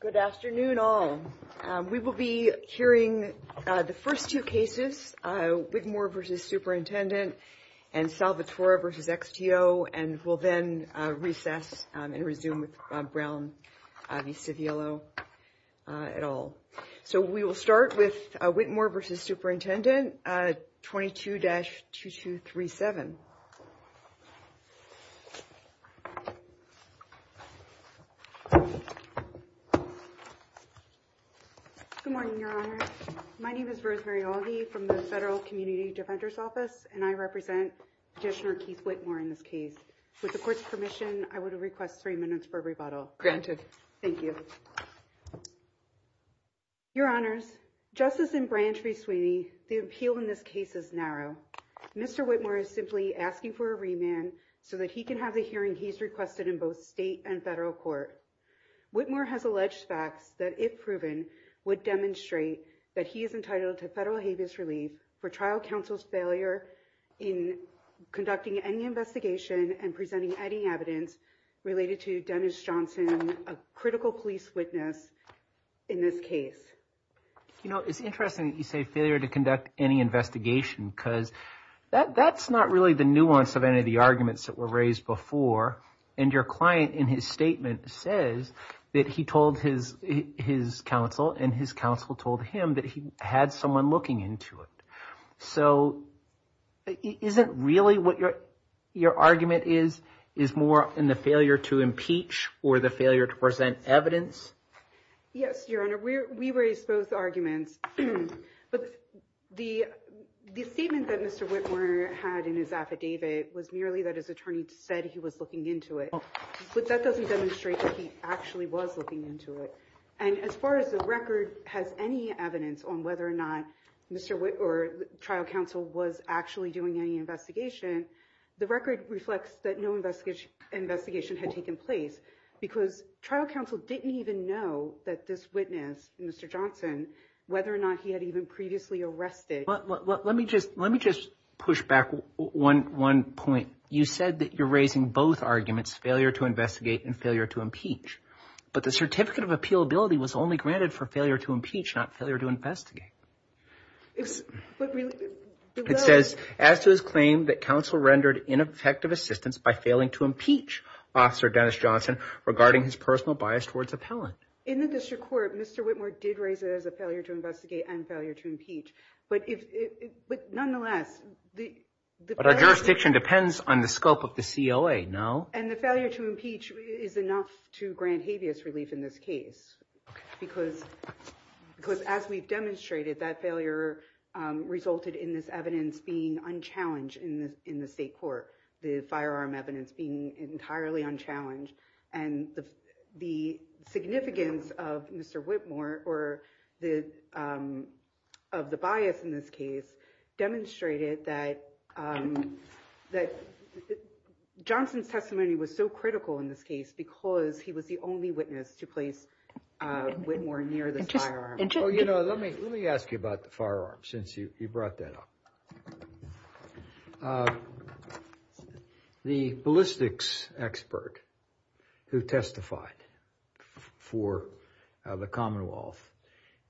Good afternoon all. We will be hearing the first two cases, Whitmore v. Superintendent and Salvatore v. XTO, and we'll then recess and resume with Bob Brown v. Civiello et al. So we will start with Whitmore v. Superintendent 22-2237. Good morning, Your Honor. My name is Rosemary Aldi from the Federal Community Defender's Office, and I represent Petitioner Keith Whitmore in this case. With the court's permission, I would request three minutes for a rebuttal. Granted. Thank you. Your Honors, just as in Branch v. Sweeney, the appeal in this case is narrow. Mr. Whitmore is simply asking for a remand so that he can have the hearing he's requested in both state and federal court. Whitmore has alleged facts that, if proven, would demonstrate that he is entitled to federal habeas relief for trial counsel's failure in conducting any investigation and presenting any evidence related to Dennis Johnson, a critical police witness, in this case. You know, it's interesting that you say failure to conduct any investigation, because that's not really the nuance of any of the arguments that were raised before. And your client, in his statement, says that he told his counsel and his counsel told him that he had someone looking into it. So isn't really what your argument is, is more in the failure to impeach or the failure to present evidence? Yes, Your Honor, we raised both arguments. But the statement that Mr. Whitmore had in his affidavit was merely that his attorney said he was looking into it. But that doesn't demonstrate that he actually was looking into it. And as far as the record has any evidence on whether or not Mr. Whitmore or trial counsel was actually doing any investigation, the record reflects that no investigation investigation had taken place because trial counsel didn't even know that this witness, Mr. Johnson, whether or not he had even previously arrested. Let me just push back one point. You said that you're raising both arguments, failure to investigate and failure to impeach. But the certificate of appeal ability was only granted for failure to impeach, not failure to investigate. It says, as to his claim that counsel rendered ineffective assistance by failing to impeach officer Dennis Johnson regarding his personal bias towards appellant. In the district court, Mr. Whitmore did raise it as a failure to investigate and failure to impeach. But if but nonetheless, the jurisdiction depends on the scope of the COA now and the failure to impeach is enough to grant habeas relief in this case, because because as we've demonstrated, that failure resulted in this evidence being unchallenged in the state court, the firearm evidence being entirely unchallenged. And the significance of Mr. Whitmore or the of the bias in this case demonstrated that that Johnson's testimony was so critical in this case because he was the only witness to place Whitmore near the firearm. And, you know, let me let me ask you about the firearm since you brought that up. The ballistics expert who testified for the Commonwealth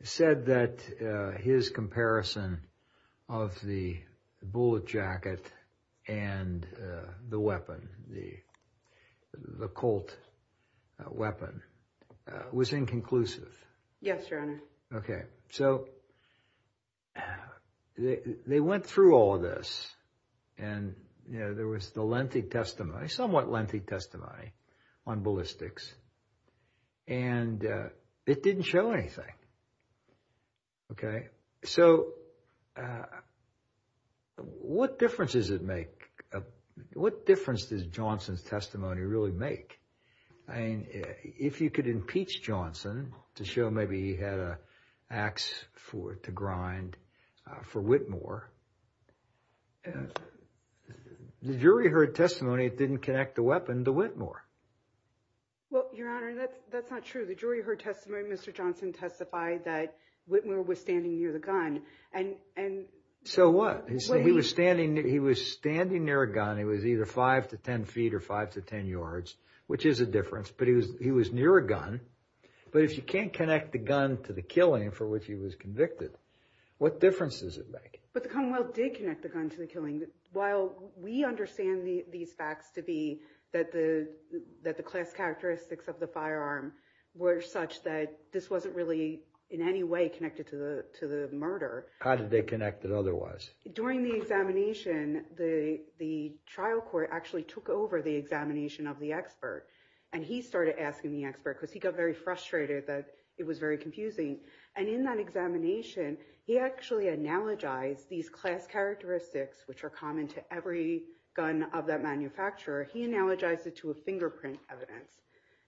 said that his comparison of the bullet jacket and the weapon, the the Colt weapon was inconclusive. Yes, Your Honor. OK, so they went through all of this and there was the lengthy testimony, somewhat lengthy testimony on ballistics. And it didn't show anything. OK, so what difference does it make? What difference does Johnson's testimony really make? I mean, if you could impeach Johnson to show maybe he had an axe to grind for Whitmore, the jury heard testimony it didn't connect the weapon to Whitmore. Well, Your Honor, that's not true. The jury heard testimony. Mr. Johnson testified that Whitmore was standing near the gun. And and so what he said he was standing. He was standing near a gun. It was either five to 10 feet or five to 10 yards, which is a difference. But he was he was near a gun. But if you can't connect the gun to the killing for which he was convicted, what difference does it make? But the Commonwealth did connect the gun to the killing. While we understand these facts to be that the that the class characteristics of the firearm were such that this wasn't really in any way connected to the to the murder. How did they connect it otherwise? During the examination, the the trial court actually took over the examination of the expert. And he started asking the expert because he got very frustrated that it was very confusing. And in that examination, he actually analogized these class characteristics, which are common to every gun of that manufacturer. He analogized it to a fingerprint evidence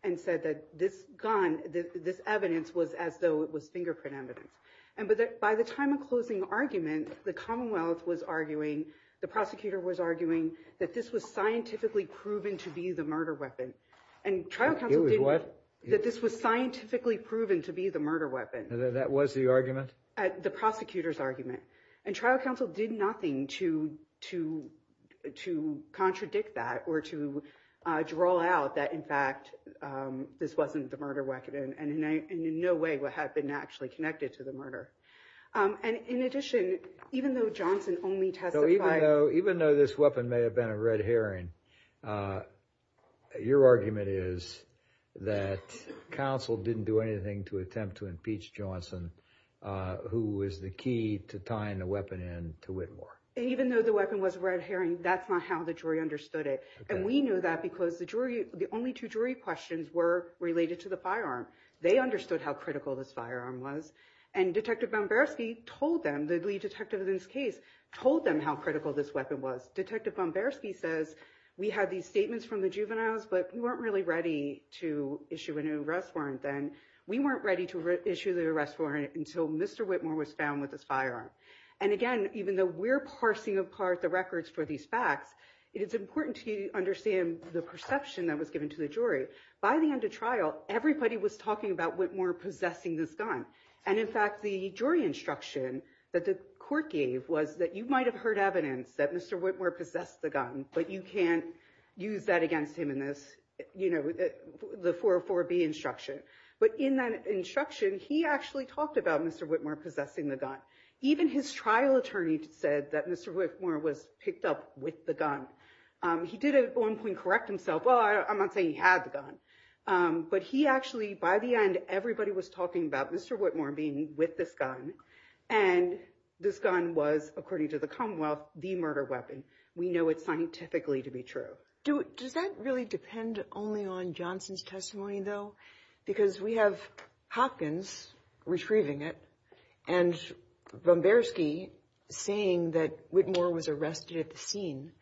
and said that this gun, this evidence was as though it was fingerprint evidence. And by the time of closing argument, the Commonwealth was arguing the prosecutor was arguing that this was scientifically proven to be the murder weapon. And trial counsel did what? That this was scientifically proven to be the murder weapon. That was the argument at the prosecutor's argument. And trial counsel did nothing to to to contradict that or to draw out that, in fact, this wasn't the murder weapon. And in no way would have been actually connected to the murder. And in addition, even though Johnson only testified, even though this weapon may have been a red herring, your argument is that counsel didn't do anything to attempt to impeach Johnson, who was the key to tying the weapon in to Whitmore. And even though the weapon was red herring, that's not how the jury understood it. And we knew that because the jury, the only two jury questions were related to the firearm. They understood how critical this firearm was. And Detective Bamberski told them, the lead detective in this case, told them how critical this weapon was. Detective Bamberski says we had these statements from the juveniles, but we weren't really ready to issue an arrest warrant. And we weren't ready to issue the arrest warrant until Mr. Whitmore was found with this firearm. And again, even though we're parsing apart the records for these facts, it's important to understand the perception that was given to the jury. By the end of trial, everybody was talking about Whitmore possessing this gun. And in fact, the jury instruction that the court gave was that you might have heard evidence that Mr. Whitmore possessed the gun, but you can't use that against him in this, you know, the 404B instruction. But in that instruction, he actually talked about Mr. Whitmore possessing the gun. Even his trial attorney said that Mr. Whitmore was picked up with the gun. He did at one point correct himself. Well, I'm not saying he had the gun. But he actually, by the end, everybody was talking about Mr. Whitmore being with this gun. And this gun was, according to the Commonwealth, the murder weapon. We know it scientifically to be true. Does that really depend only on Johnson's testimony, though? Because we have Hopkins retrieving it and Bomberski saying that Whitmore was arrested at the scene.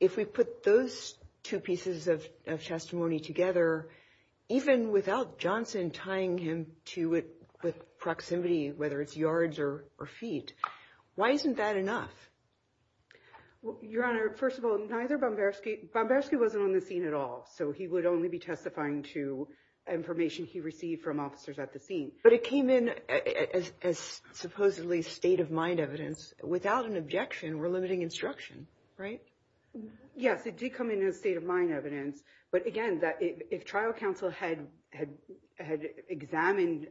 If we put those two pieces of testimony together, even without Johnson tying him to it with proximity, whether it's yards or feet, why isn't that enough? Your Honor, first of all, neither Bomberski. Bomberski wasn't on the scene at all, so he would only be testifying to information he received from officers at the scene. But it came in as supposedly state-of-mind evidence. Without an objection, we're limiting instruction, right? Yes, it did come in as state-of-mind evidence. But, again, if trial counsel had examined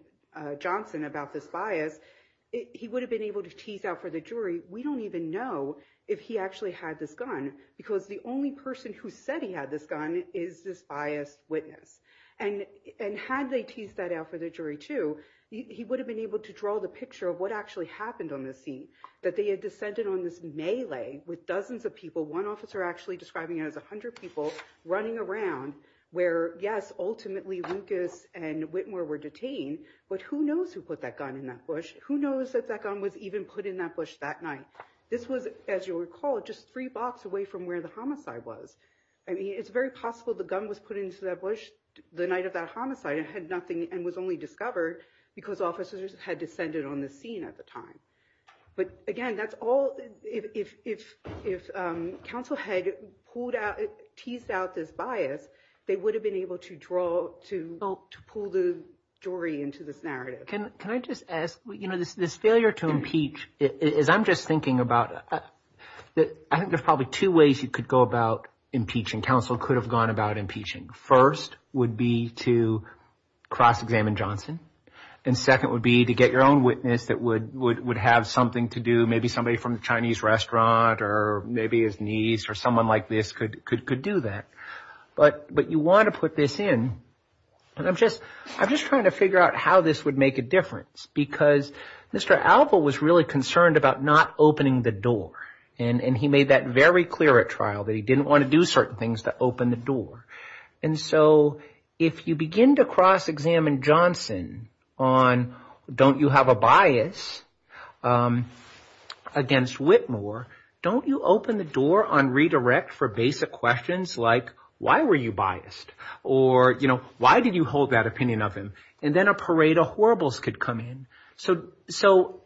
Johnson about this bias, he would have been able to tease out for the jury. We don't even know if he actually had this gun, because the only person who said he had this gun is this biased witness. And had they teased that out for the jury, too, he would have been able to draw the picture of what actually happened on the scene, that they had descended on this melee with dozens of people, one officer actually describing it as 100 people, running around, where, yes, ultimately Lucas and Whitmore were detained. But who knows who put that gun in that bush? Who knows that that gun was even put in that bush that night? This was, as you recall, just three blocks away from where the homicide was. I mean, it's very possible the gun was put into that bush the night of that homicide and had nothing and was only discovered because officers had descended on the scene at the time. But, again, that's all – if counsel had pulled out – teased out this bias, they would have been able to draw – to pull the jury into this narrative. Can I just ask – you know, this failure to impeach, as I'm just thinking about it, I think there's probably two ways you could go about impeaching. Counsel could have gone about impeaching. First would be to cross-examine Johnson. And second would be to get your own witness that would have something to do, maybe somebody from the Chinese restaurant or maybe his niece or someone like this could do that. But you want to put this in. And I'm just trying to figure out how this would make a difference because Mr. Alva was really concerned about not opening the door. And he made that very clear at trial that he didn't want to do certain things to open the door. And so if you begin to cross-examine Johnson on don't you have a bias against Whitmore, don't you open the door on redirect for basic questions like why were you biased? Or, you know, why did you hold that opinion of him? And then a parade of horribles could come in. So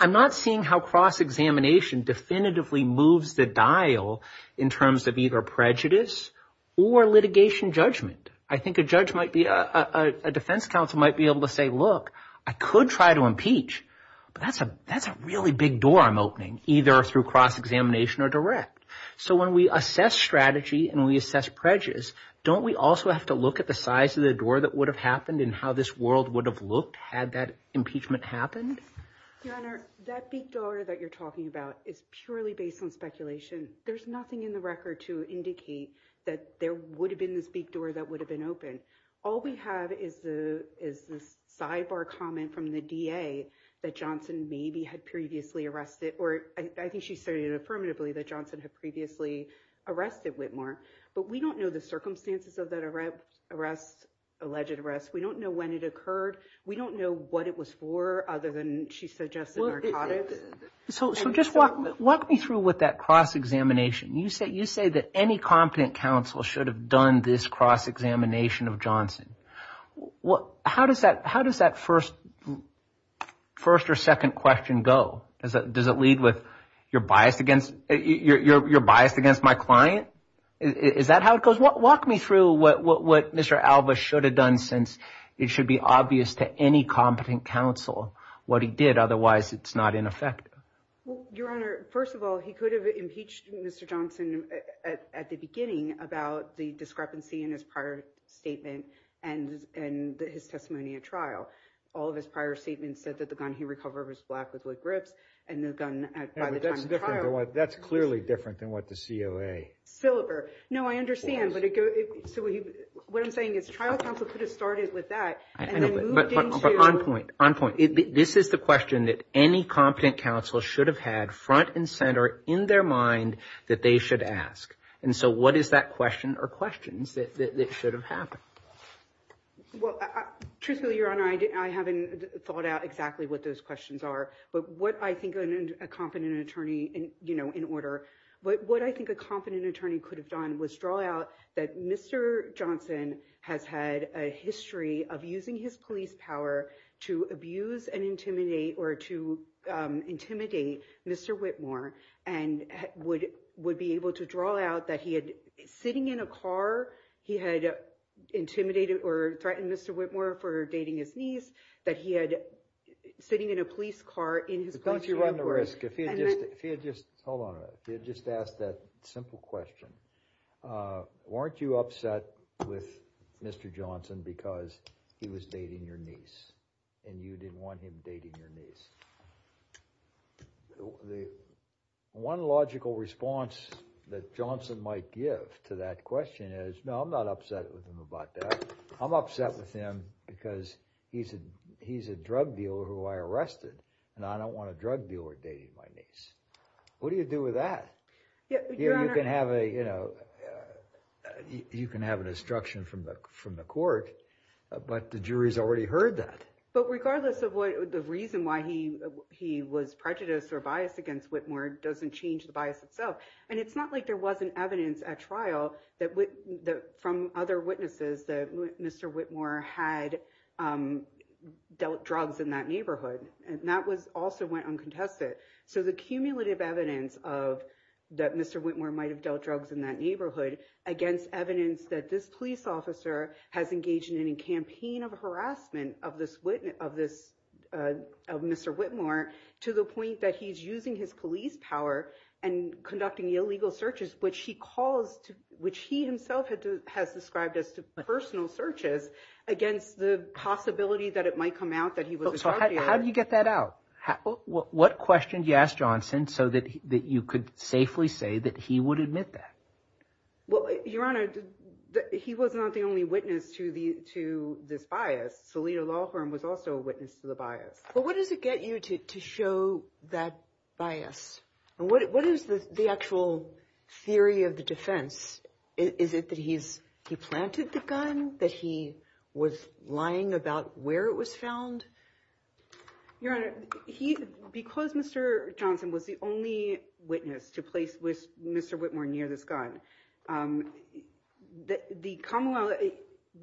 I'm not seeing how cross-examination definitively moves the dial in terms of either prejudice or litigation judgment. I think a judge might be – a defense counsel might be able to say, look, I could try to impeach, but that's a really big door I'm opening either through cross-examination or direct. So when we assess strategy and we assess prejudice, don't we also have to look at the size of the door that would have happened and how this world would have looked had that impeachment happened? Your Honor, that big door that you're talking about is purely based on speculation. There's nothing in the record to indicate that there would have been this big door that would have been open. All we have is this sidebar comment from the DA that Johnson maybe had previously arrested, or I think she stated affirmatively that Johnson had previously arrested Whitmore. But we don't know the circumstances of that alleged arrest. We don't know when it occurred. We don't know what it was for other than she suggested narcotics. So just walk me through with that cross-examination. You say that any competent counsel should have done this cross-examination of Johnson. How does that first or second question go? Does it lead with you're biased against my client? Is that how it goes? Walk me through what Mr. Alva should have done since it should be obvious to any competent counsel what he did. Otherwise, it's not ineffective. Your Honor, first of all, he could have impeached Mr. Johnson at the beginning about the discrepancy in his prior statement and his testimony at trial. All of his prior statements said that the gun he recovered was black with wood grips and the gun at the time of trial. That's clearly different than what the COA. No, I understand. What I'm saying is trial counsel could have started with that. On point, on point. This is the question that any competent counsel should have had front and center in their mind that they should ask. And so what is that question or questions that should have happened? Well, truthfully, Your Honor, I haven't thought out exactly what those questions are. But what I think a competent attorney in order. But what I think a competent attorney could have done was draw out that Mr. Johnson has had a history of using his police power to abuse and intimidate or to intimidate Mr. Whitmore and would would be able to draw out that he had sitting in a car. He had intimidated or threatened Mr. Whitmore for dating his niece that he had sitting in a police car in his. Don't you run the risk if you just hold on? You just ask that simple question. Weren't you upset with Mr. Johnson because he was dating your niece and you didn't want him dating your niece? The one logical response that Johnson might give to that question is, no, I'm not upset with him about that. I'm upset with him because he's a he's a drug dealer who I arrested and I don't want a drug dealer dating my niece. What do you do with that? You can have a you know, you can have an instruction from the from the court. But the jury's already heard that. But regardless of what the reason why he he was prejudiced or biased against Whitmore doesn't change the bias itself. And it's not like there wasn't evidence at trial that that from other witnesses that Mr. Whitmore had dealt drugs in that neighborhood. And that was also went uncontested. So the cumulative evidence of that Mr. Whitmore might have dealt drugs in that neighborhood against evidence that this police officer has engaged in any campaign of harassment of this witness of this of Mr. Whitmore to the point that he's using his police power and conducting illegal searches, which he calls to which he himself has described as personal searches against the possibility that it might come out that he was. How do you get that out? What question do you ask Johnson so that you could safely say that he would admit that? Well, Your Honor, he was not the only witness to the to this bias. Salida Laughlin was also a witness to the bias. But what does it get you to show that bias? And what is the actual theory of the defense? Is it that he's he planted the gun that he was lying about where it was found? Your Honor, he because Mr. Johnson was the only witness to place with Mr. Whitmore near this gun that the Commonwealth,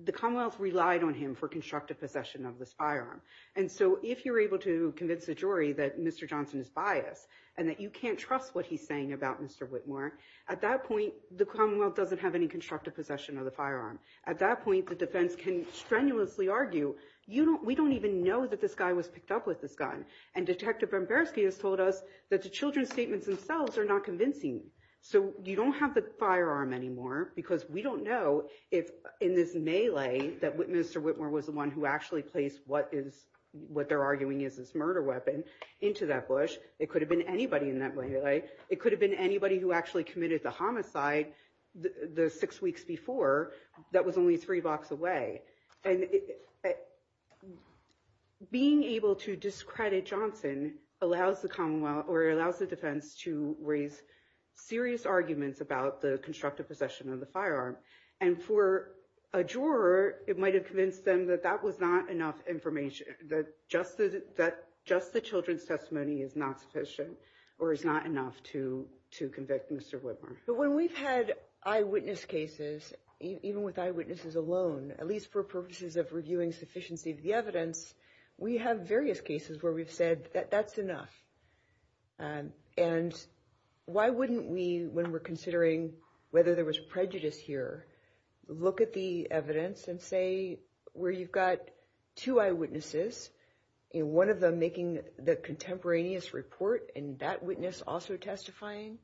the Commonwealth relied on him for constructive possession of this firearm. And so if you're able to convince the jury that Mr. Johnson is biased and that you can't trust what he's saying about Mr. Whitmore, at that point, the Commonwealth doesn't have any constructive possession of the firearm. At that point, the defense can strenuously argue, you know, we don't even know that this guy was picked up with this gun. And Detective Bramberski has told us that the children's statements themselves are not convincing. So you don't have the firearm anymore because we don't know if in this melee that Mr. Whitmore was the one who actually placed what is what they're arguing is this murder weapon into that bush. It could have been anybody in that way. It could have been anybody who actually committed the homicide the six weeks before that was only three blocks away. And being able to discredit Johnson allows the Commonwealth or allows the defense to raise serious arguments about the constructive possession of the firearm. And for a juror, it might have convinced them that that was not enough information, that just the children's testimony is not sufficient or is not enough to convict Mr. Whitmore. But when we've had eyewitness cases, even with eyewitnesses alone, at least for purposes of reviewing sufficiency of the evidence, we have various cases where we've said that that's enough. And why wouldn't we, when we're considering whether there was prejudice here, look at the evidence and say where you've got two eyewitnesses, one of them making the contemporaneous report and that witness also testifying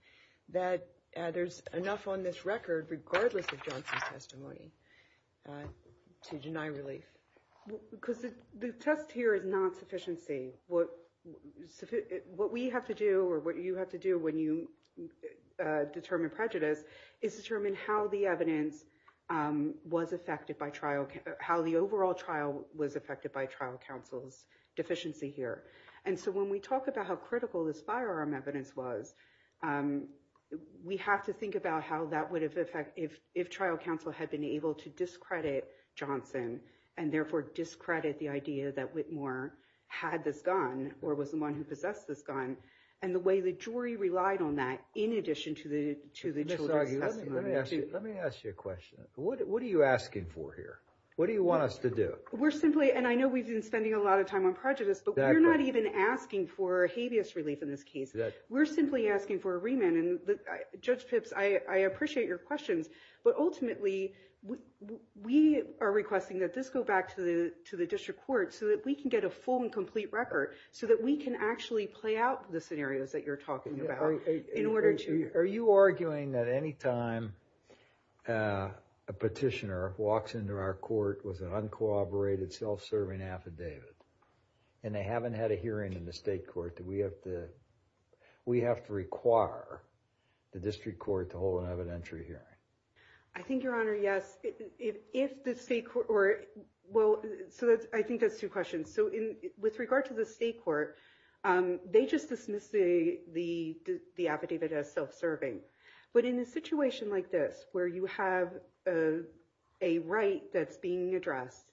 that there's enough on this record regardless of Johnson's testimony to deny relief? Because the test here is not sufficiency. What we have to do or what you have to do when you determine prejudice is determine how the evidence was affected by trial, how the overall trial was affected by trial counsel's deficiency here. And so when we talk about how critical this firearm evidence was, we have to think about how that would have affected if trial counsel had been able to discredit Johnson and therefore discredit the idea that Whitmore had this gun or was the one who possessed this gun and the way the jury relied on that in addition to the children's testimony. Let me ask you a question. What are you asking for here? What do you want us to do? We're simply, and I know we've been spending a lot of time on prejudice, but we're not even asking for habeas relief in this case. We're simply asking for a remand. And Judge Pipps, I appreciate your questions. But ultimately, we are requesting that this go back to the to the district court so that we can get a full and complete record so that we can actually play out the scenarios that you're talking about. Are you arguing that any time a petitioner walks into our court with an uncooperated, self-serving affidavit and they haven't had a hearing in the state court, that we have to require the district court to hold an evidentiary hearing? I think, Your Honor, yes. So I think that's two questions. So with regard to the state court, they just dismiss the affidavit as self-serving. But in a situation like this, where you have a right that's being addressed,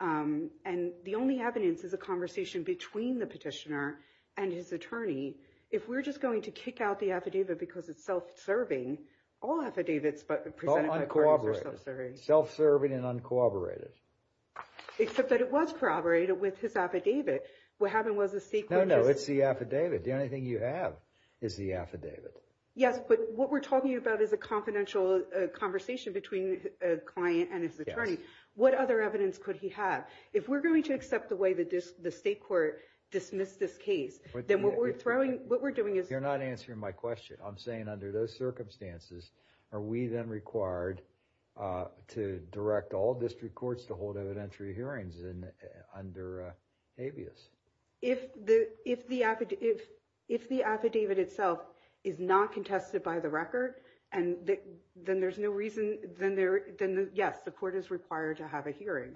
and the only evidence is a conversation between the petitioner and his attorney, if we're just going to kick out the affidavit because it's self-serving, all affidavits presented by courts are self-serving. Uncooperated. Self-serving and uncooperated. Except that it was corroborated with his affidavit. What happened was the state court just- No, no. It's the affidavit. The only thing you have is the affidavit. Yes, but what we're talking about is a confidential conversation between a client and his attorney. What other evidence could he have? If we're going to accept the way that the state court dismissed this case, then what we're doing is- You're not answering my question. I'm saying under those circumstances, are we then required to direct all district courts to hold evidentiary hearings under habeas? If the affidavit itself is not contested by the record, then yes, the court is required to have a hearing.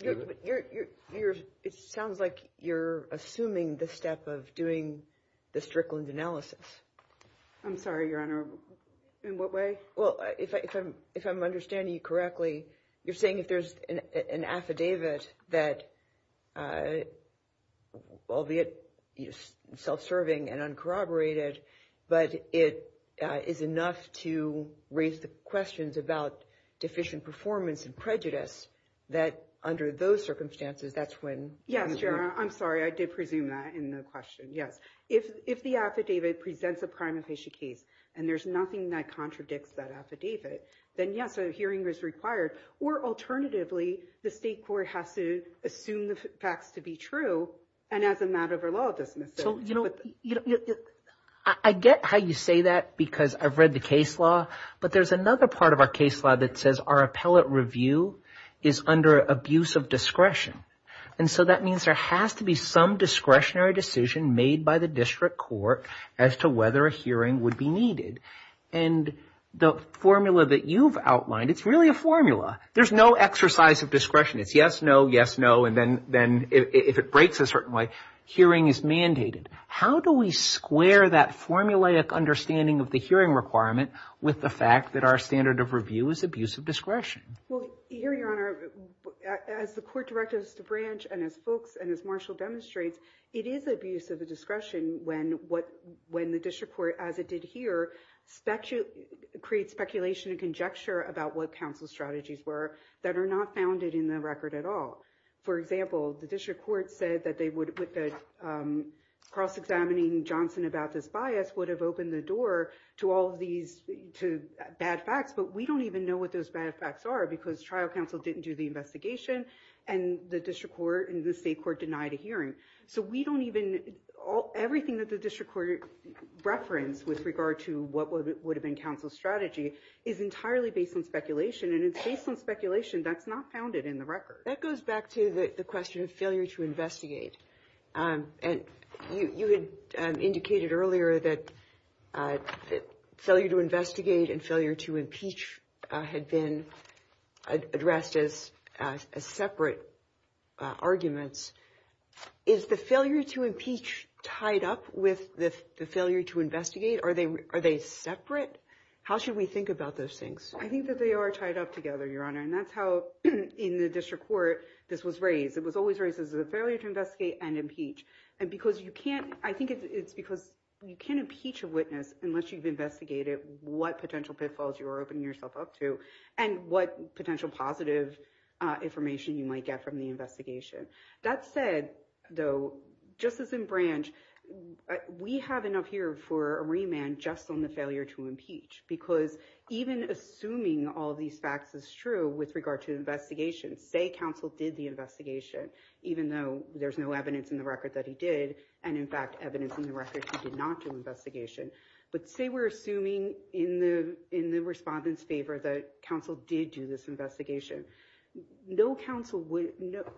It sounds like you're assuming the step of doing the Strickland analysis. I'm sorry, Your Honor. In what way? Well, if I'm understanding you correctly, you're saying if there's an affidavit that, albeit self-serving and uncorroborated, but it is enough to raise the questions about deficient performance and prejudice, that under those circumstances, that's when- Your Honor, I'm sorry. I did presume that in the question. Yes. If the affidavit presents a prime inpatient case and there's nothing that contradicts that affidavit, then yes, a hearing is required. Or alternatively, the state court has to assume the facts to be true and as a matter of a law dismissal. I get how you say that because I've read the case law, but there's another part of our case law that says our appellate review is under abuse of discretion. And so that means there has to be some discretionary decision made by the district court as to whether a hearing would be needed. And the formula that you've outlined, it's really a formula. There's no exercise of discretion. It's yes, no, yes, no, and then if it breaks a certain way, hearing is mandated. How do we square that formulaic understanding of the hearing requirement with the fact that our standard of review is abuse of discretion? Well, here, Your Honor, as the court directives to branch and as folks and as Marshall demonstrates, it is abuse of the discretion when the district court, as it did here, creates speculation and conjecture about what counsel's strategies were that are not founded in the record at all. For example, the district court said that cross-examining Johnson about this bias would have opened the door to all of these bad facts, but we don't even know what those bad facts are because trial counsel didn't do the investigation and the district court and the state court denied a hearing. So we don't even, everything that the district court referenced with regard to what would have been counsel's strategy is entirely based on speculation and it's based on speculation that's not founded in the record. That goes back to the question of failure to investigate, and you had indicated earlier that failure to investigate and failure to impeach had been addressed as separate arguments. Is the failure to impeach tied up with the failure to investigate? Are they separate? How should we think about those things? I think that they are tied up together, Your Honor, and that's how in the district court this was raised. It was always raised as a failure to investigate and impeach. And because you can't, I think it's because you can't impeach a witness unless you've investigated what potential pitfalls you are opening yourself up to and what potential positive information you might get from the investigation. That said, though, just as in Branch, we have enough here for a remand just on the failure to impeach because even assuming all these facts is true with regard to investigations, say counsel did the investigation, even though there's no evidence in the record that he did, and in fact evidence in the record he did not do an investigation, but say we're assuming in the respondents' favor that counsel did do this investigation. No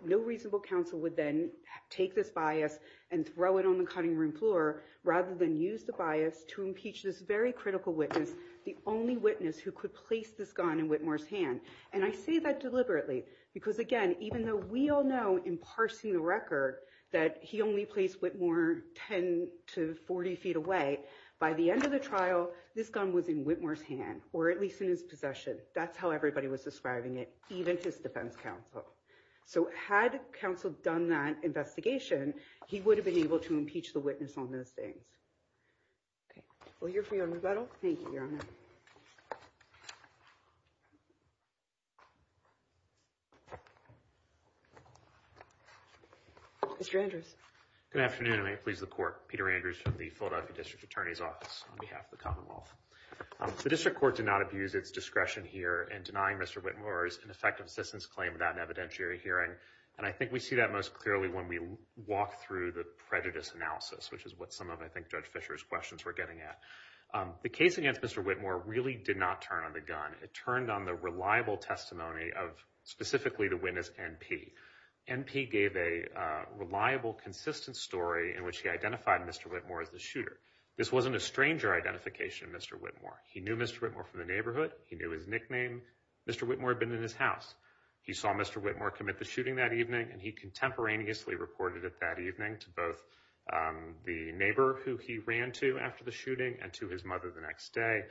reasonable counsel would then take this bias and throw it on the cutting room floor rather than use the bias to impeach this very critical witness, the only witness who could place this gun in Whitmore's hand. And I say that deliberately because, again, even though we all know in parsing the record that he only placed Whitmore 10 to 40 feet away, by the end of the trial, this gun was in Whitmore's hand or at least in his possession. That's how everybody was describing it, even his defense counsel. So had counsel done that investigation, he would have been able to impeach the witness on those things. We'll hear from you on rebuttal. Thank you, Your Honor. Mr. Andrews. Good afternoon. May it please the court. Peter Andrews from the Philadelphia District Attorney's Office on behalf of the Commonwealth. The district court did not abuse its discretion here in denying Mr. Whitmore's ineffective assistance claim without an evidentiary hearing. And I think we see that most clearly when we walk through the prejudice analysis, which is what some of, I think, Judge Fischer's questions were getting at. The case against Mr. Whitmore really did not turn on the gun. It turned on the reliable testimony of specifically the witness, NP. NP gave a reliable, consistent story in which he identified Mr. Whitmore as the shooter. This wasn't a stranger identification of Mr. Whitmore. He knew Mr. Whitmore from the neighborhood. He knew his nickname. Mr. Whitmore had been in his house. He saw Mr. Whitmore commit the shooting that evening, and he contemporaneously reported it that evening to both the neighbor who he ran to after the shooting and to his mother the next day.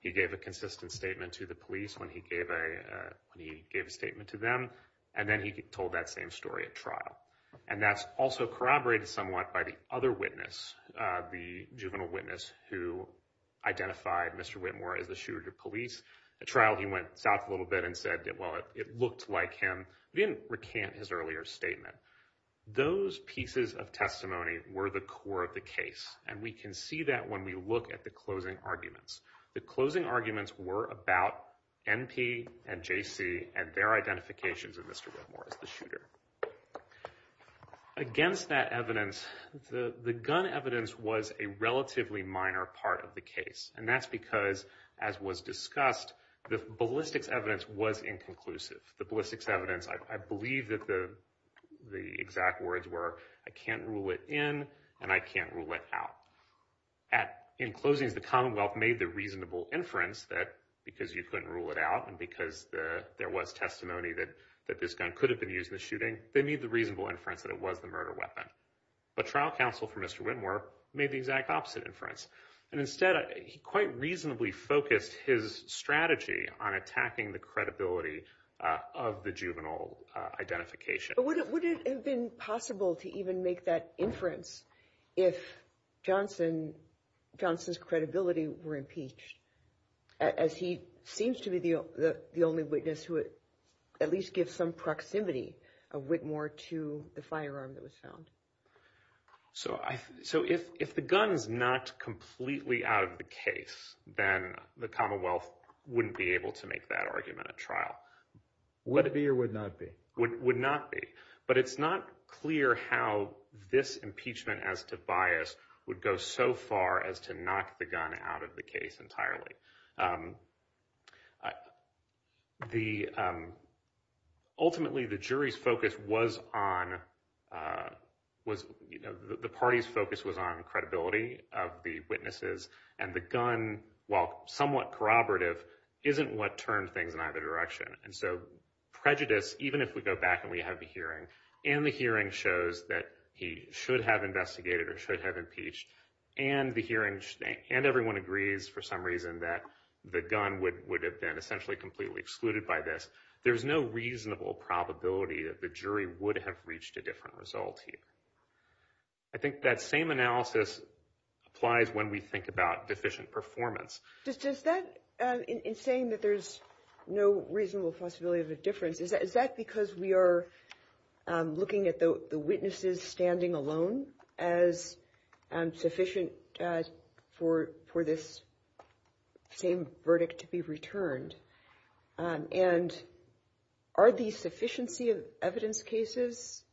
He gave a consistent statement to the police when he gave a statement to them, and then he told that same story at trial. And that's also corroborated somewhat by the other witness, the juvenile witness who identified Mr. Whitmore as the shooter to police. At trial, he went south a little bit and said, well, it looked like him. He didn't recant his earlier statement. Those pieces of testimony were the core of the case, and we can see that when we look at the closing arguments. The closing arguments were about NP and JC and their identifications of Mr. Whitmore as the shooter. Against that evidence, the gun evidence was a relatively minor part of the case, and that's because, as was discussed, the ballistics evidence was inconclusive. The ballistics evidence, I believe that the exact words were, I can't rule it in and I can't rule it out. In closings, the Commonwealth made the reasonable inference that because you couldn't rule it out and because there was testimony that this gun could have been used in the shooting, they made the reasonable inference that it was the murder weapon. But trial counsel for Mr. Whitmore made the exact opposite inference. And instead, he quite reasonably focused his strategy on attacking the credibility of the juvenile identification. But would it have been possible to even make that inference if Johnson's credibility were impeached, as he seems to be the only witness who would at least give some proximity of Whitmore to the firearm that was found? So if the gun is not completely out of the case, then the Commonwealth wouldn't be able to make that argument at trial. Would it be or would not be? But it's not clear how this impeachment as to bias would go so far as to knock the gun out of the case entirely. Ultimately, the jury's focus was on, the party's focus was on credibility of the witnesses, and the gun, while somewhat corroborative, isn't what turned things in either direction. And so prejudice, even if we go back and we have the hearing, and the hearing shows that he should have investigated or should have impeached, and everyone agrees for some reason that the gun would have been essentially completely excluded by this, there's no reasonable probability that the jury would have reached a different result here. I think that same analysis applies when we think about deficient performance. Does that, in saying that there's no reasonable possibility of a difference, is that because we are looking at the witnesses standing alone as sufficient for this same verdict to be returned? And are the sufficiency of evidence cases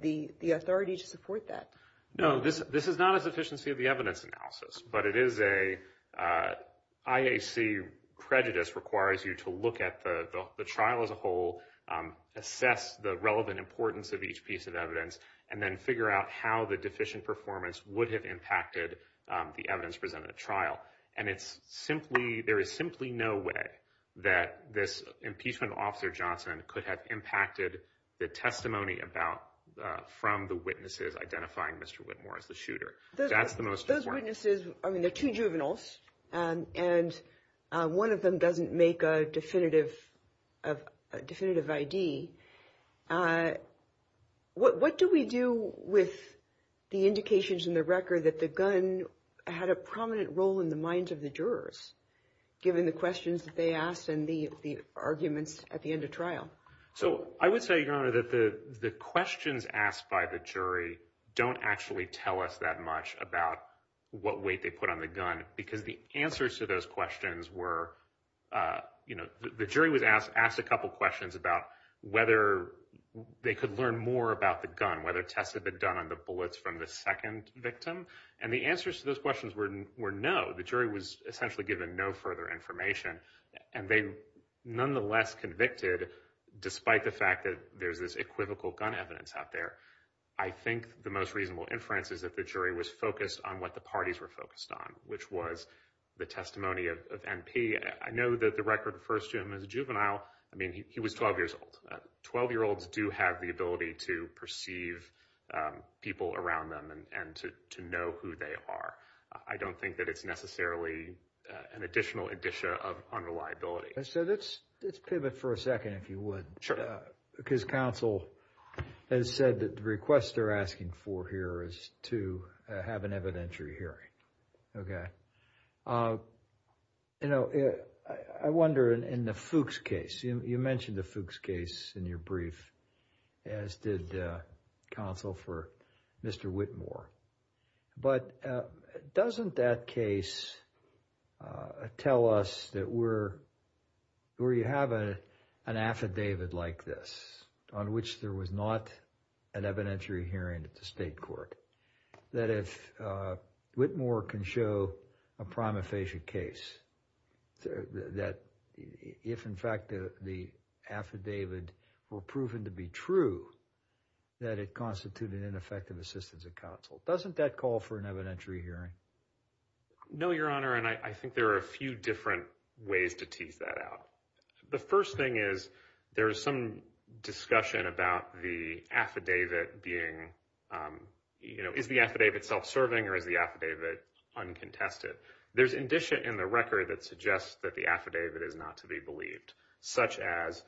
the authority to support that? No, this is not a sufficiency of the evidence analysis, but it is a IAC prejudice requires you to look at the trial as a whole, assess the relevant importance of each piece of evidence, and then figure out how the deficient performance would have impacted the evidence presented at trial. And it's simply, there is simply no way that this impeachment officer, Johnson, could have impacted the testimony from the witnesses identifying Mr. Whitmore as the shooter. Those witnesses, I mean, they're two juveniles, and one of them doesn't make a definitive ID. What do we do with the indications in the record that the gun had a prominent role in the minds of the jurors, given the questions that they asked and the arguments at the end of trial? So I would say, Your Honor, that the questions asked by the jury don't actually tell us that much about what weight they put on the gun, because the answers to those questions were, you know, the jury was asked a couple of questions about whether they could learn more about the gun, whether tests had been done on the bullets from the second victim. And the answers to those questions were no. The jury was essentially given no further information, and they nonetheless convicted, despite the fact that there's this equivocal gun evidence out there. I think the most reasonable inference is that the jury was focused on what the parties were focused on, which was the testimony of MP. I know that the record refers to him as a juvenile. I mean, he was 12 years old. Twelve-year-olds do have the ability to perceive people around them and to know who they are. I don't think that it's necessarily an additional indicia of unreliability. So let's pivot for a second, if you would. Sure. Because counsel has said that the request they're asking for here is to have an evidentiary hearing. Okay. You know, I wonder, in the Fuchs case, you mentioned the Fuchs case in your brief, as did counsel for Mr. Whitmore. But doesn't that case tell us that where you have an affidavit like this, on which there was not an evidentiary hearing at the state court, that if Whitmore can show a prima facie case, that if, in fact, the affidavit were proven to be true, that it constituted ineffective assistance of counsel? Doesn't that call for an evidentiary hearing? No, Your Honor, and I think there are a few different ways to tease that out. The first thing is there is some discussion about the affidavit being, you know, is the affidavit self-serving or is the affidavit uncontested? There's indicia in the record that suggests that the affidavit is not to be believed, such as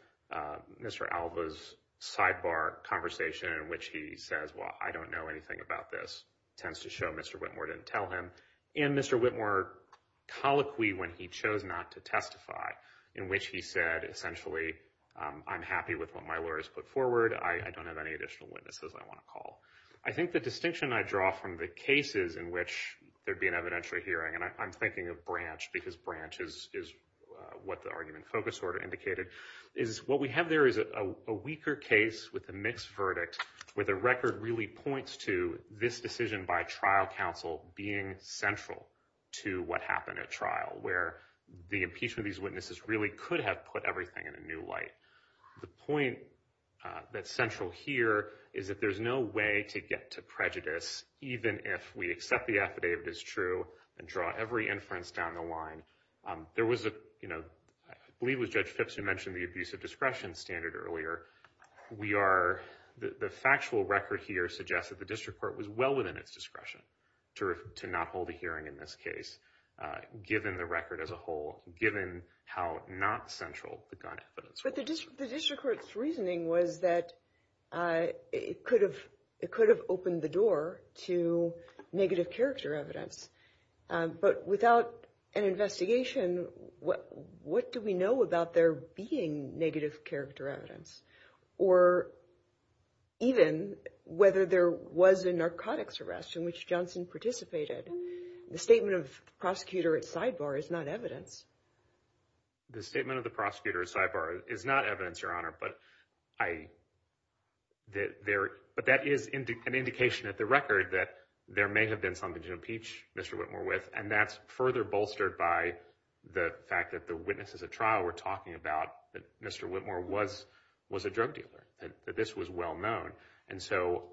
Mr. Alva's sidebar conversation in which he says, well, I don't know anything about this, tends to show Mr. Whitmore didn't tell him, and Mr. Whitmore's colloquy when he chose not to testify in which he said, essentially, I'm happy with what my lawyer has put forward. I don't have any additional witnesses I want to call. I think the distinction I draw from the cases in which there'd be an evidentiary hearing, and I'm thinking of Branch because Branch is what the argument focus order indicated, is what we have there is a weaker case with a mixed verdict, where the record really points to this decision by trial counsel being central to what happened at trial, where the impeachment of these witnesses really could have put everything in a new light. The point that's central here is that there's no way to get to prejudice, even if we accept the affidavit is true and draw every inference down the line. There was a, you know, I believe it was Judge Phipps who mentioned the abuse of discretion standard earlier. We are, the factual record here suggests that the district court was well within its discretion to not hold a hearing in this case, given the record as a whole, given how not central the gun evidence was. But the district court's reasoning was that it could have opened the door to negative character evidence. But without an investigation, what do we know about there being negative character evidence? Or even whether there was a narcotics arrest in which Johnson participated? The statement of the prosecutor at sidebar is not evidence. The statement of the prosecutor at sidebar is not evidence, Your Honor. But that is an indication at the record that there may have been something to impeach Mr. Whitmore with. And that's further bolstered by the fact that the witnesses at trial were talking about that Mr. Whitmore was a drug dealer, that this was well known. And so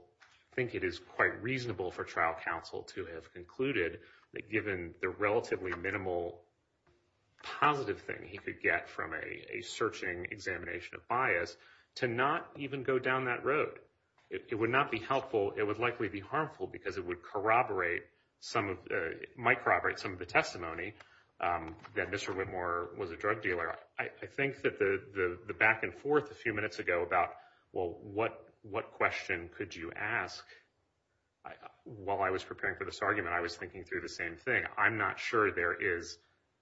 I think it is quite reasonable for trial counsel to have concluded that, given the relatively minimal positive thing he could get from a searching examination of bias, to not even go down that road. It would not be helpful. It would likely be harmful because it would corroborate some of the testimony that Mr. Whitmore was a drug dealer. I think that the back and forth a few minutes ago about, well, what question could you ask? While I was preparing for this argument, I was thinking through the same thing. I'm not sure there is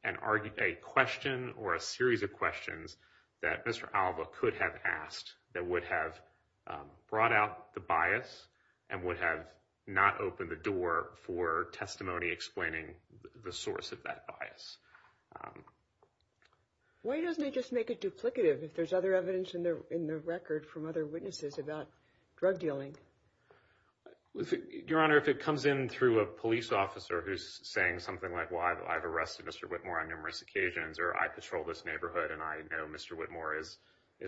a question or a series of questions that Mr. Alba could have asked that would have brought out the bias and would have not opened the door for testimony explaining the source of that bias. Why doesn't he just make it duplicative if there's other evidence in the record from other witnesses about drug dealing? Your Honor, if it comes in through a police officer who's saying something like, well, I've arrested Mr. Whitmore on numerous occasions or I patrol this neighborhood and I know Mr. Whitmore is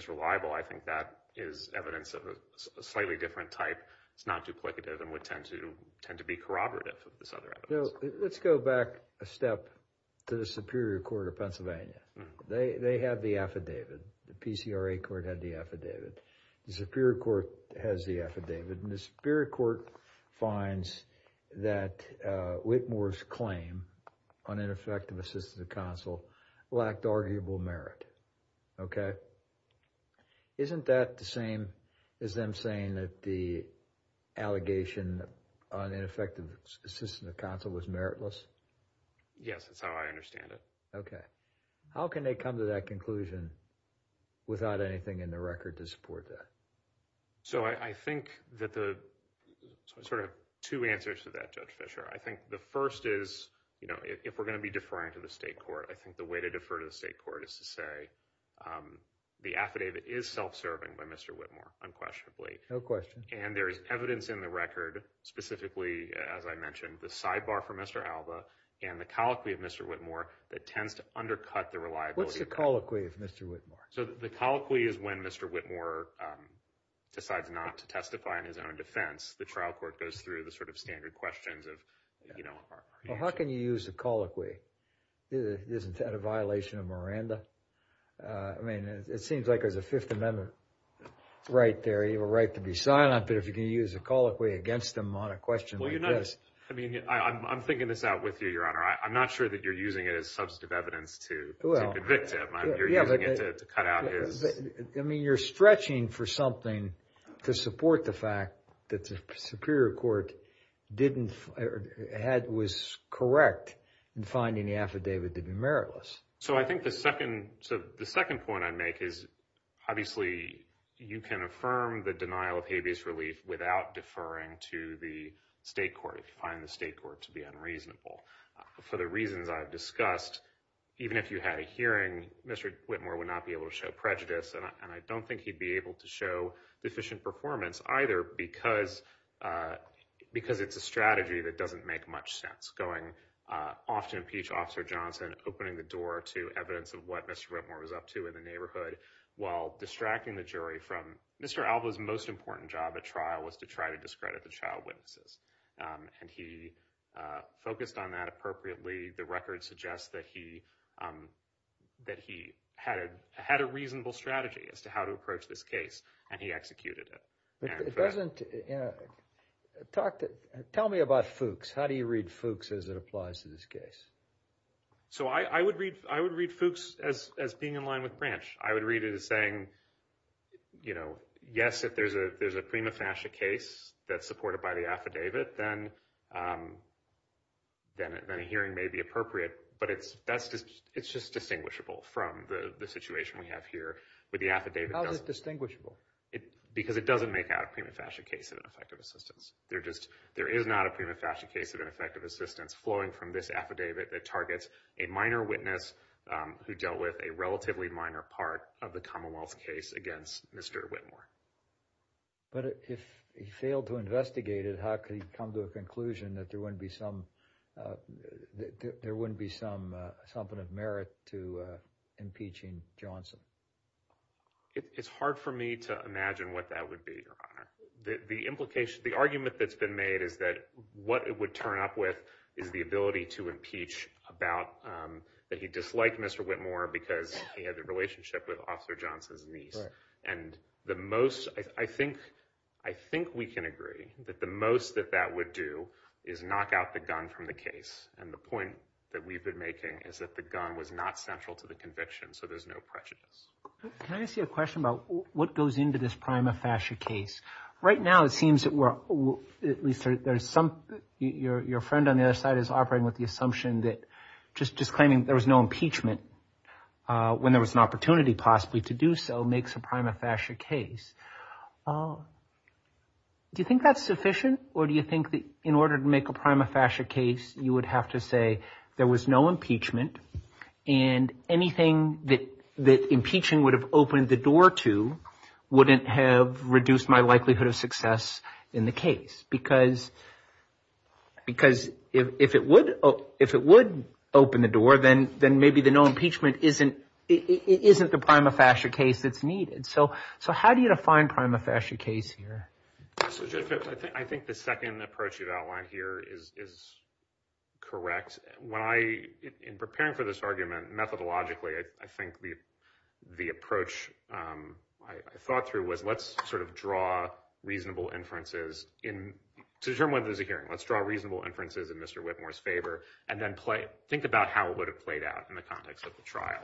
reliable, I think that is evidence of a slightly different type. It's not duplicative and would tend to be corroborative of this other evidence. Let's go back a step to the Superior Court of Pennsylvania. They have the affidavit. The PCRA court had the affidavit. The Superior Court has the affidavit. The Superior Court finds that Whitmore's claim on ineffective assistance of counsel lacked arguable merit. Isn't that the same as them saying that the allegation on ineffective assistance of counsel was meritless? Yes, that's how I understand it. Okay. How can they come to that conclusion without anything in the record to support that? So I think that the sort of two answers to that, Judge Fischer. I think the first is, you know, if we're going to be deferring to the state court, I think the way to defer to the state court is to say the affidavit is self-serving by Mr. Whitmore, unquestionably. No question. And there is evidence in the record, specifically, as I mentioned, the sidebar for Mr. Alba and the colloquy of Mr. Whitmore that tends to undercut the reliability. What's the colloquy of Mr. Whitmore? So the colloquy is when Mr. Whitmore decides not to testify in his own defense. The trial court goes through the sort of standard questions of, you know. Well, how can you use a colloquy? Isn't that a violation of Miranda? I mean, it seems like there's a Fifth Amendment right there. You have a right to be silent, but if you can use a colloquy against him on a question like this. I mean, I'm thinking this out with you, Your Honor. I'm not sure that you're using it as substantive evidence to convict him. You're using it to cut out his. I mean, you're stretching for something to support the fact that the superior court didn't, or was correct in finding the affidavit to be meritless. So I think the second point I'd make is, obviously, you can affirm the denial of habeas relief without deferring to the state court if you find the state court to be unreasonable. For the reasons I've discussed, even if you had a hearing, Mr. Whitmore would not be able to show prejudice. And I don't think he'd be able to show deficient performance either because it's a strategy that doesn't make much sense. Going off to impeach Officer Johnson, opening the door to evidence of what Mr. Whitmore was up to in the neighborhood, while distracting the jury from Mr. Alva's most important job at trial was to try to discredit the child witnesses. And he focused on that appropriately. The record suggests that he had a reasonable strategy as to how to approach this case, and he executed it. Tell me about Fuchs. How do you read Fuchs as it applies to this case? So I would read Fuchs as being in line with Branch. I would read it as saying, you know, yes, if there's a prima facie case that's supported by the affidavit, then a hearing may be appropriate. But it's just distinguishable from the situation we have here with the affidavit. How is it distinguishable? Because it doesn't make out a prima facie case of ineffective assistance. There is not a prima facie case of ineffective assistance flowing from this affidavit that targets a minor witness who dealt with a relatively minor part of the Commonwealth case against Mr. Whitmore. But if he failed to investigate it, how could he come to a conclusion that there wouldn't be some, that there wouldn't be some something of merit to impeaching Johnson? It's hard for me to imagine what that would be, Your Honor. The implication, the argument that's been made is that what it would turn up with is the ability to impeach about that he disliked Mr. Whitmore because he had a relationship with Officer Johnson's niece. And the most, I think, I think we can agree that the most that that would do is knock out the gun from the case. And the point that we've been making is that the gun was not central to the conviction. So there's no prejudice. Can I ask you a question about what goes into this prima facie case? Right now, it seems that we're at least there's some your friend on the other side is operating with the assumption that just just claiming there was no impeachment when there was an opportunity possibly to do so makes a prima facie case. Do you think that's sufficient or do you think that in order to make a prima facie case, you would have to say there was no impeachment and anything that that impeaching would have opened the door to wouldn't have reduced my likelihood of success in the case? Because because if it would, if it would open the door, then then maybe the no impeachment isn't it isn't the prima facie case that's needed. So. So how do you define prima facie case here? I think the second approach you've outlined here is is correct. When I in preparing for this argument methodologically, I think the the approach I thought through was let's sort of draw reasonable inferences in to determine whether there's a hearing. Let's draw reasonable inferences in Mr. Whitmore's favor and then play. Think about how it would have played out in the context of the trial.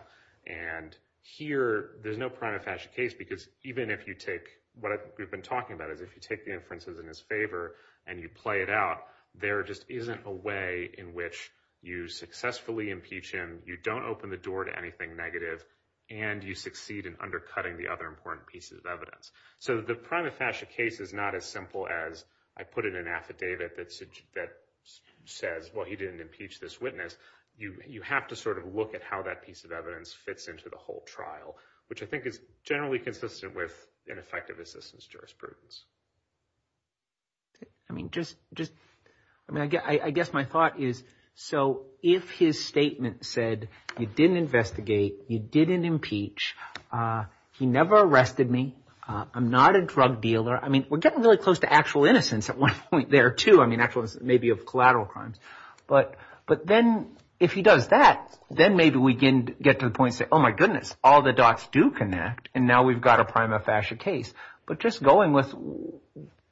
And here there's no prima facie case, because even if you take what we've been talking about, in his favor and you play it out, there just isn't a way in which you successfully impeach him. You don't open the door to anything negative and you succeed in undercutting the other important pieces of evidence. So the prima facie case is not as simple as I put it in an affidavit that that says, well, he didn't impeach this witness. You have to sort of look at how that piece of evidence fits into the whole trial, which I think is generally consistent with an effective assistance jurisprudence. I mean, just just I mean, I guess my thought is so if his statement said you didn't investigate, you didn't impeach. He never arrested me. I'm not a drug dealer. I mean, we're getting really close to actual innocence at one point there, too. I mean, actual maybe of collateral crimes. But but then if he does that, then maybe we can get to the point. Oh, my goodness. All the dots do connect. And now we've got a prima facie case. But just going with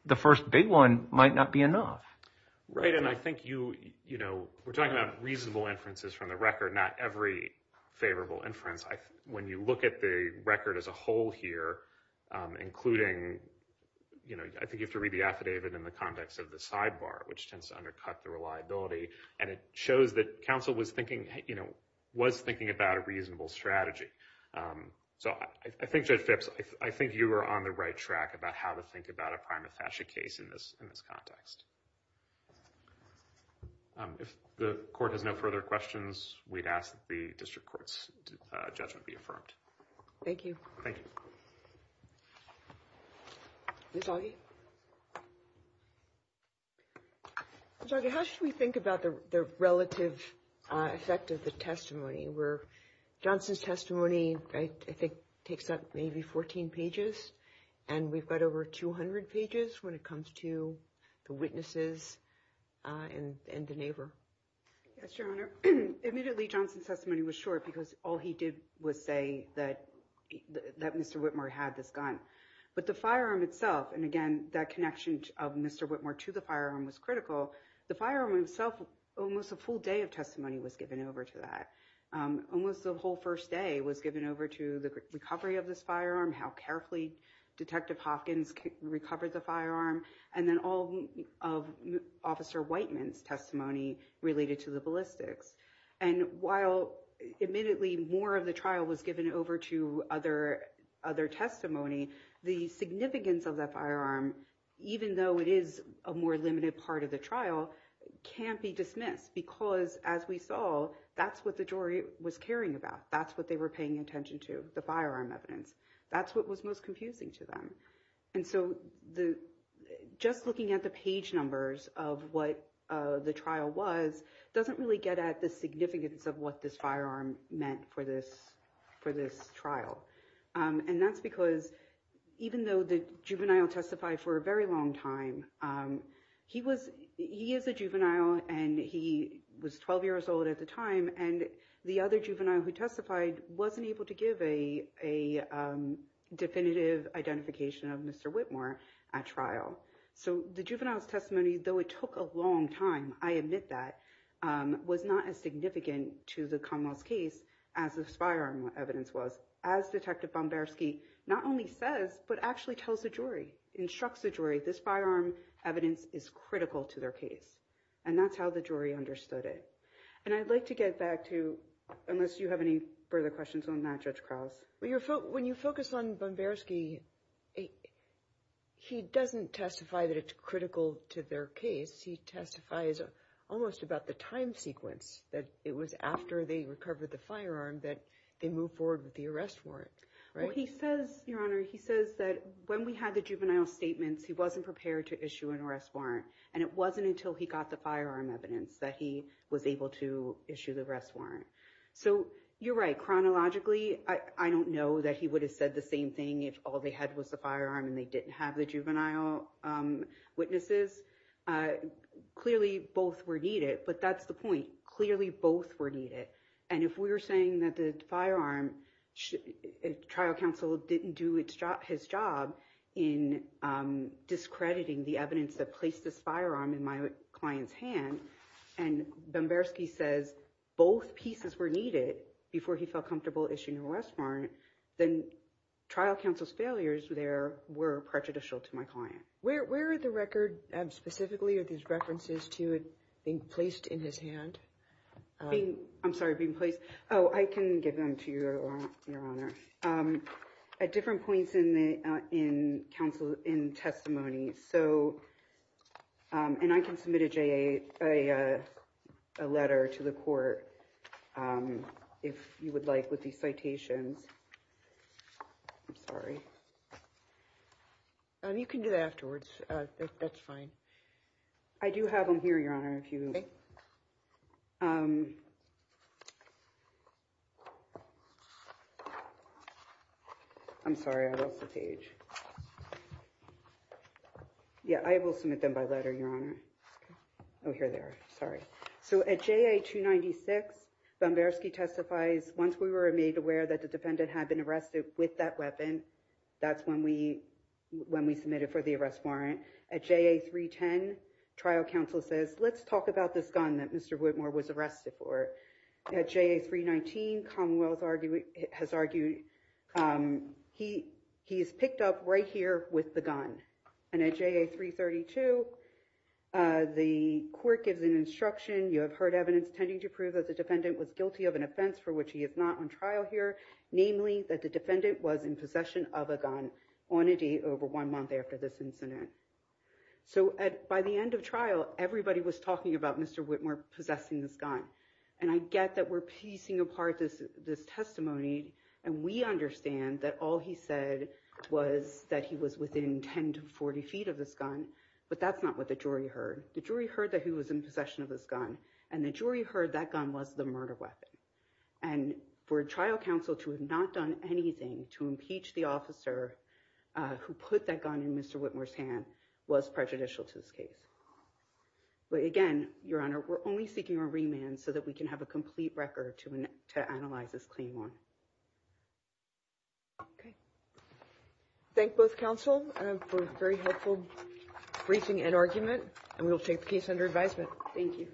the first big one might not be enough. Right. And I think you know, we're talking about reasonable inferences from the record, not every favorable inference. When you look at the record as a whole here, including, you know, I think you have to read the affidavit in the context of the sidebar, which tends to undercut the reliability. And it shows that counsel was thinking, you know, was thinking about a reasonable strategy. So I think, Judge Phipps, I think you are on the right track about how to think about a prima facie case in this in this context. If the court has no further questions, we'd ask the district court's judgment be affirmed. Thank you. Thank you. So how should we think about the relative effect of the testimony where Johnson's testimony, I think, takes up maybe 14 pages and we've got over 200 pages. When it comes to the witnesses and the neighbor. Yes, Your Honor. Immediately, Johnson's testimony was short because all he did was say that that Mr. Whitmore had this gun, but the firearm itself. And again, that connection of Mr. Whitmore to the firearm was critical. The firearm itself, almost a full day of testimony was given over to that. Almost the whole first day was given over to the recovery of this firearm, how carefully Detective Hopkins recovered the firearm. And then all of Officer Whiteman's testimony related to the ballistics. And while admittedly more of the trial was given over to other other testimony, the significance of the firearm, even though it is a more limited part of the trial, can't be dismissed because, as we saw, that's what the jury was caring about. That's what they were paying attention to the firearm evidence. That's what was most confusing to them. And so, just looking at the page numbers of what the trial was doesn't really get at the significance of what this firearm meant for this trial. And that's because, even though the juvenile testified for a very long time, he is a juvenile and he was 12 years old at the time, and the other juvenile who testified wasn't able to give a definitive identification of Mr. Whitmore at trial. So, the juvenile's testimony, though it took a long time, I admit that, was not as significant to the Commonwealth's case as this firearm evidence was. As Detective Bomberski not only says, but actually tells the jury, instructs the jury, this firearm evidence is critical to their case. And that's how the jury understood it. And I'd like to get back to, unless you have any further questions on that, Judge Krause. When you focus on Bomberski, he doesn't testify that it's critical to their case. He testifies almost about the time sequence, that it was after they recovered the firearm that they moved forward with the arrest warrant. Well, he says, Your Honor, he says that when we had the juvenile statements, he wasn't prepared to issue an arrest warrant. And it wasn't until he got the firearm evidence that he was able to issue the arrest warrant. So, you're right, chronologically, I don't know that he would have said the same thing if all they had was the firearm and they didn't have the juvenile witnesses. Clearly, both were needed. But that's the point. Clearly, both were needed. And if we were saying that the firearm, trial counsel didn't do his job in discrediting the evidence that placed this firearm in my client's hand, and Bomberski says both pieces were needed before he felt comfortable issuing an arrest warrant, then trial counsel's failures there were prejudicial to my client. Where are the record, specifically, are these references to it being placed in his hand? I'm sorry, being placed? Oh, I can give them to you, Your Honor. At different points in testimony, and I can submit a letter to the court if you would like with these citations. I'm sorry. You can do that afterwards. That's fine. I do have them here, Your Honor. I'm sorry, I lost the page. Yeah, I will submit them by letter, Your Honor. Oh, here they are. Sorry. So at JA 296, Bomberski testifies, once we were made aware that the defendant had been arrested with that weapon, that's when we submitted for the arrest warrant. At JA 310, trial counsel says, let's talk about this gun that Mr. Whitmore was arrested for. At JA 319, Commonwealth has argued he is picked up right here with the gun. And at JA 332, the court gives an instruction, you have heard evidence tending to prove that the defendant was guilty of an offense for which he is not on trial here, namely that the defendant was in possession of a gun on a date over one month after this incident. So by the end of trial, everybody was talking about Mr. Whitmore possessing this gun. And I get that we're piecing apart this testimony, and we understand that all he said was that he was within 10 to 40 feet of this gun. But that's not what the jury heard. The jury heard that he was in possession of this gun, and the jury heard that gun was the murder weapon. And for trial counsel to have not done anything to impeach the officer who put that gun in Mr. Whitmore's hand was prejudicial to this case. But again, Your Honor, we're only seeking a remand so that we can have a complete record to analyze this clean one. Okay. Thank both counsel for a very helpful briefing and argument. And we will take the case under advisement. Thank you.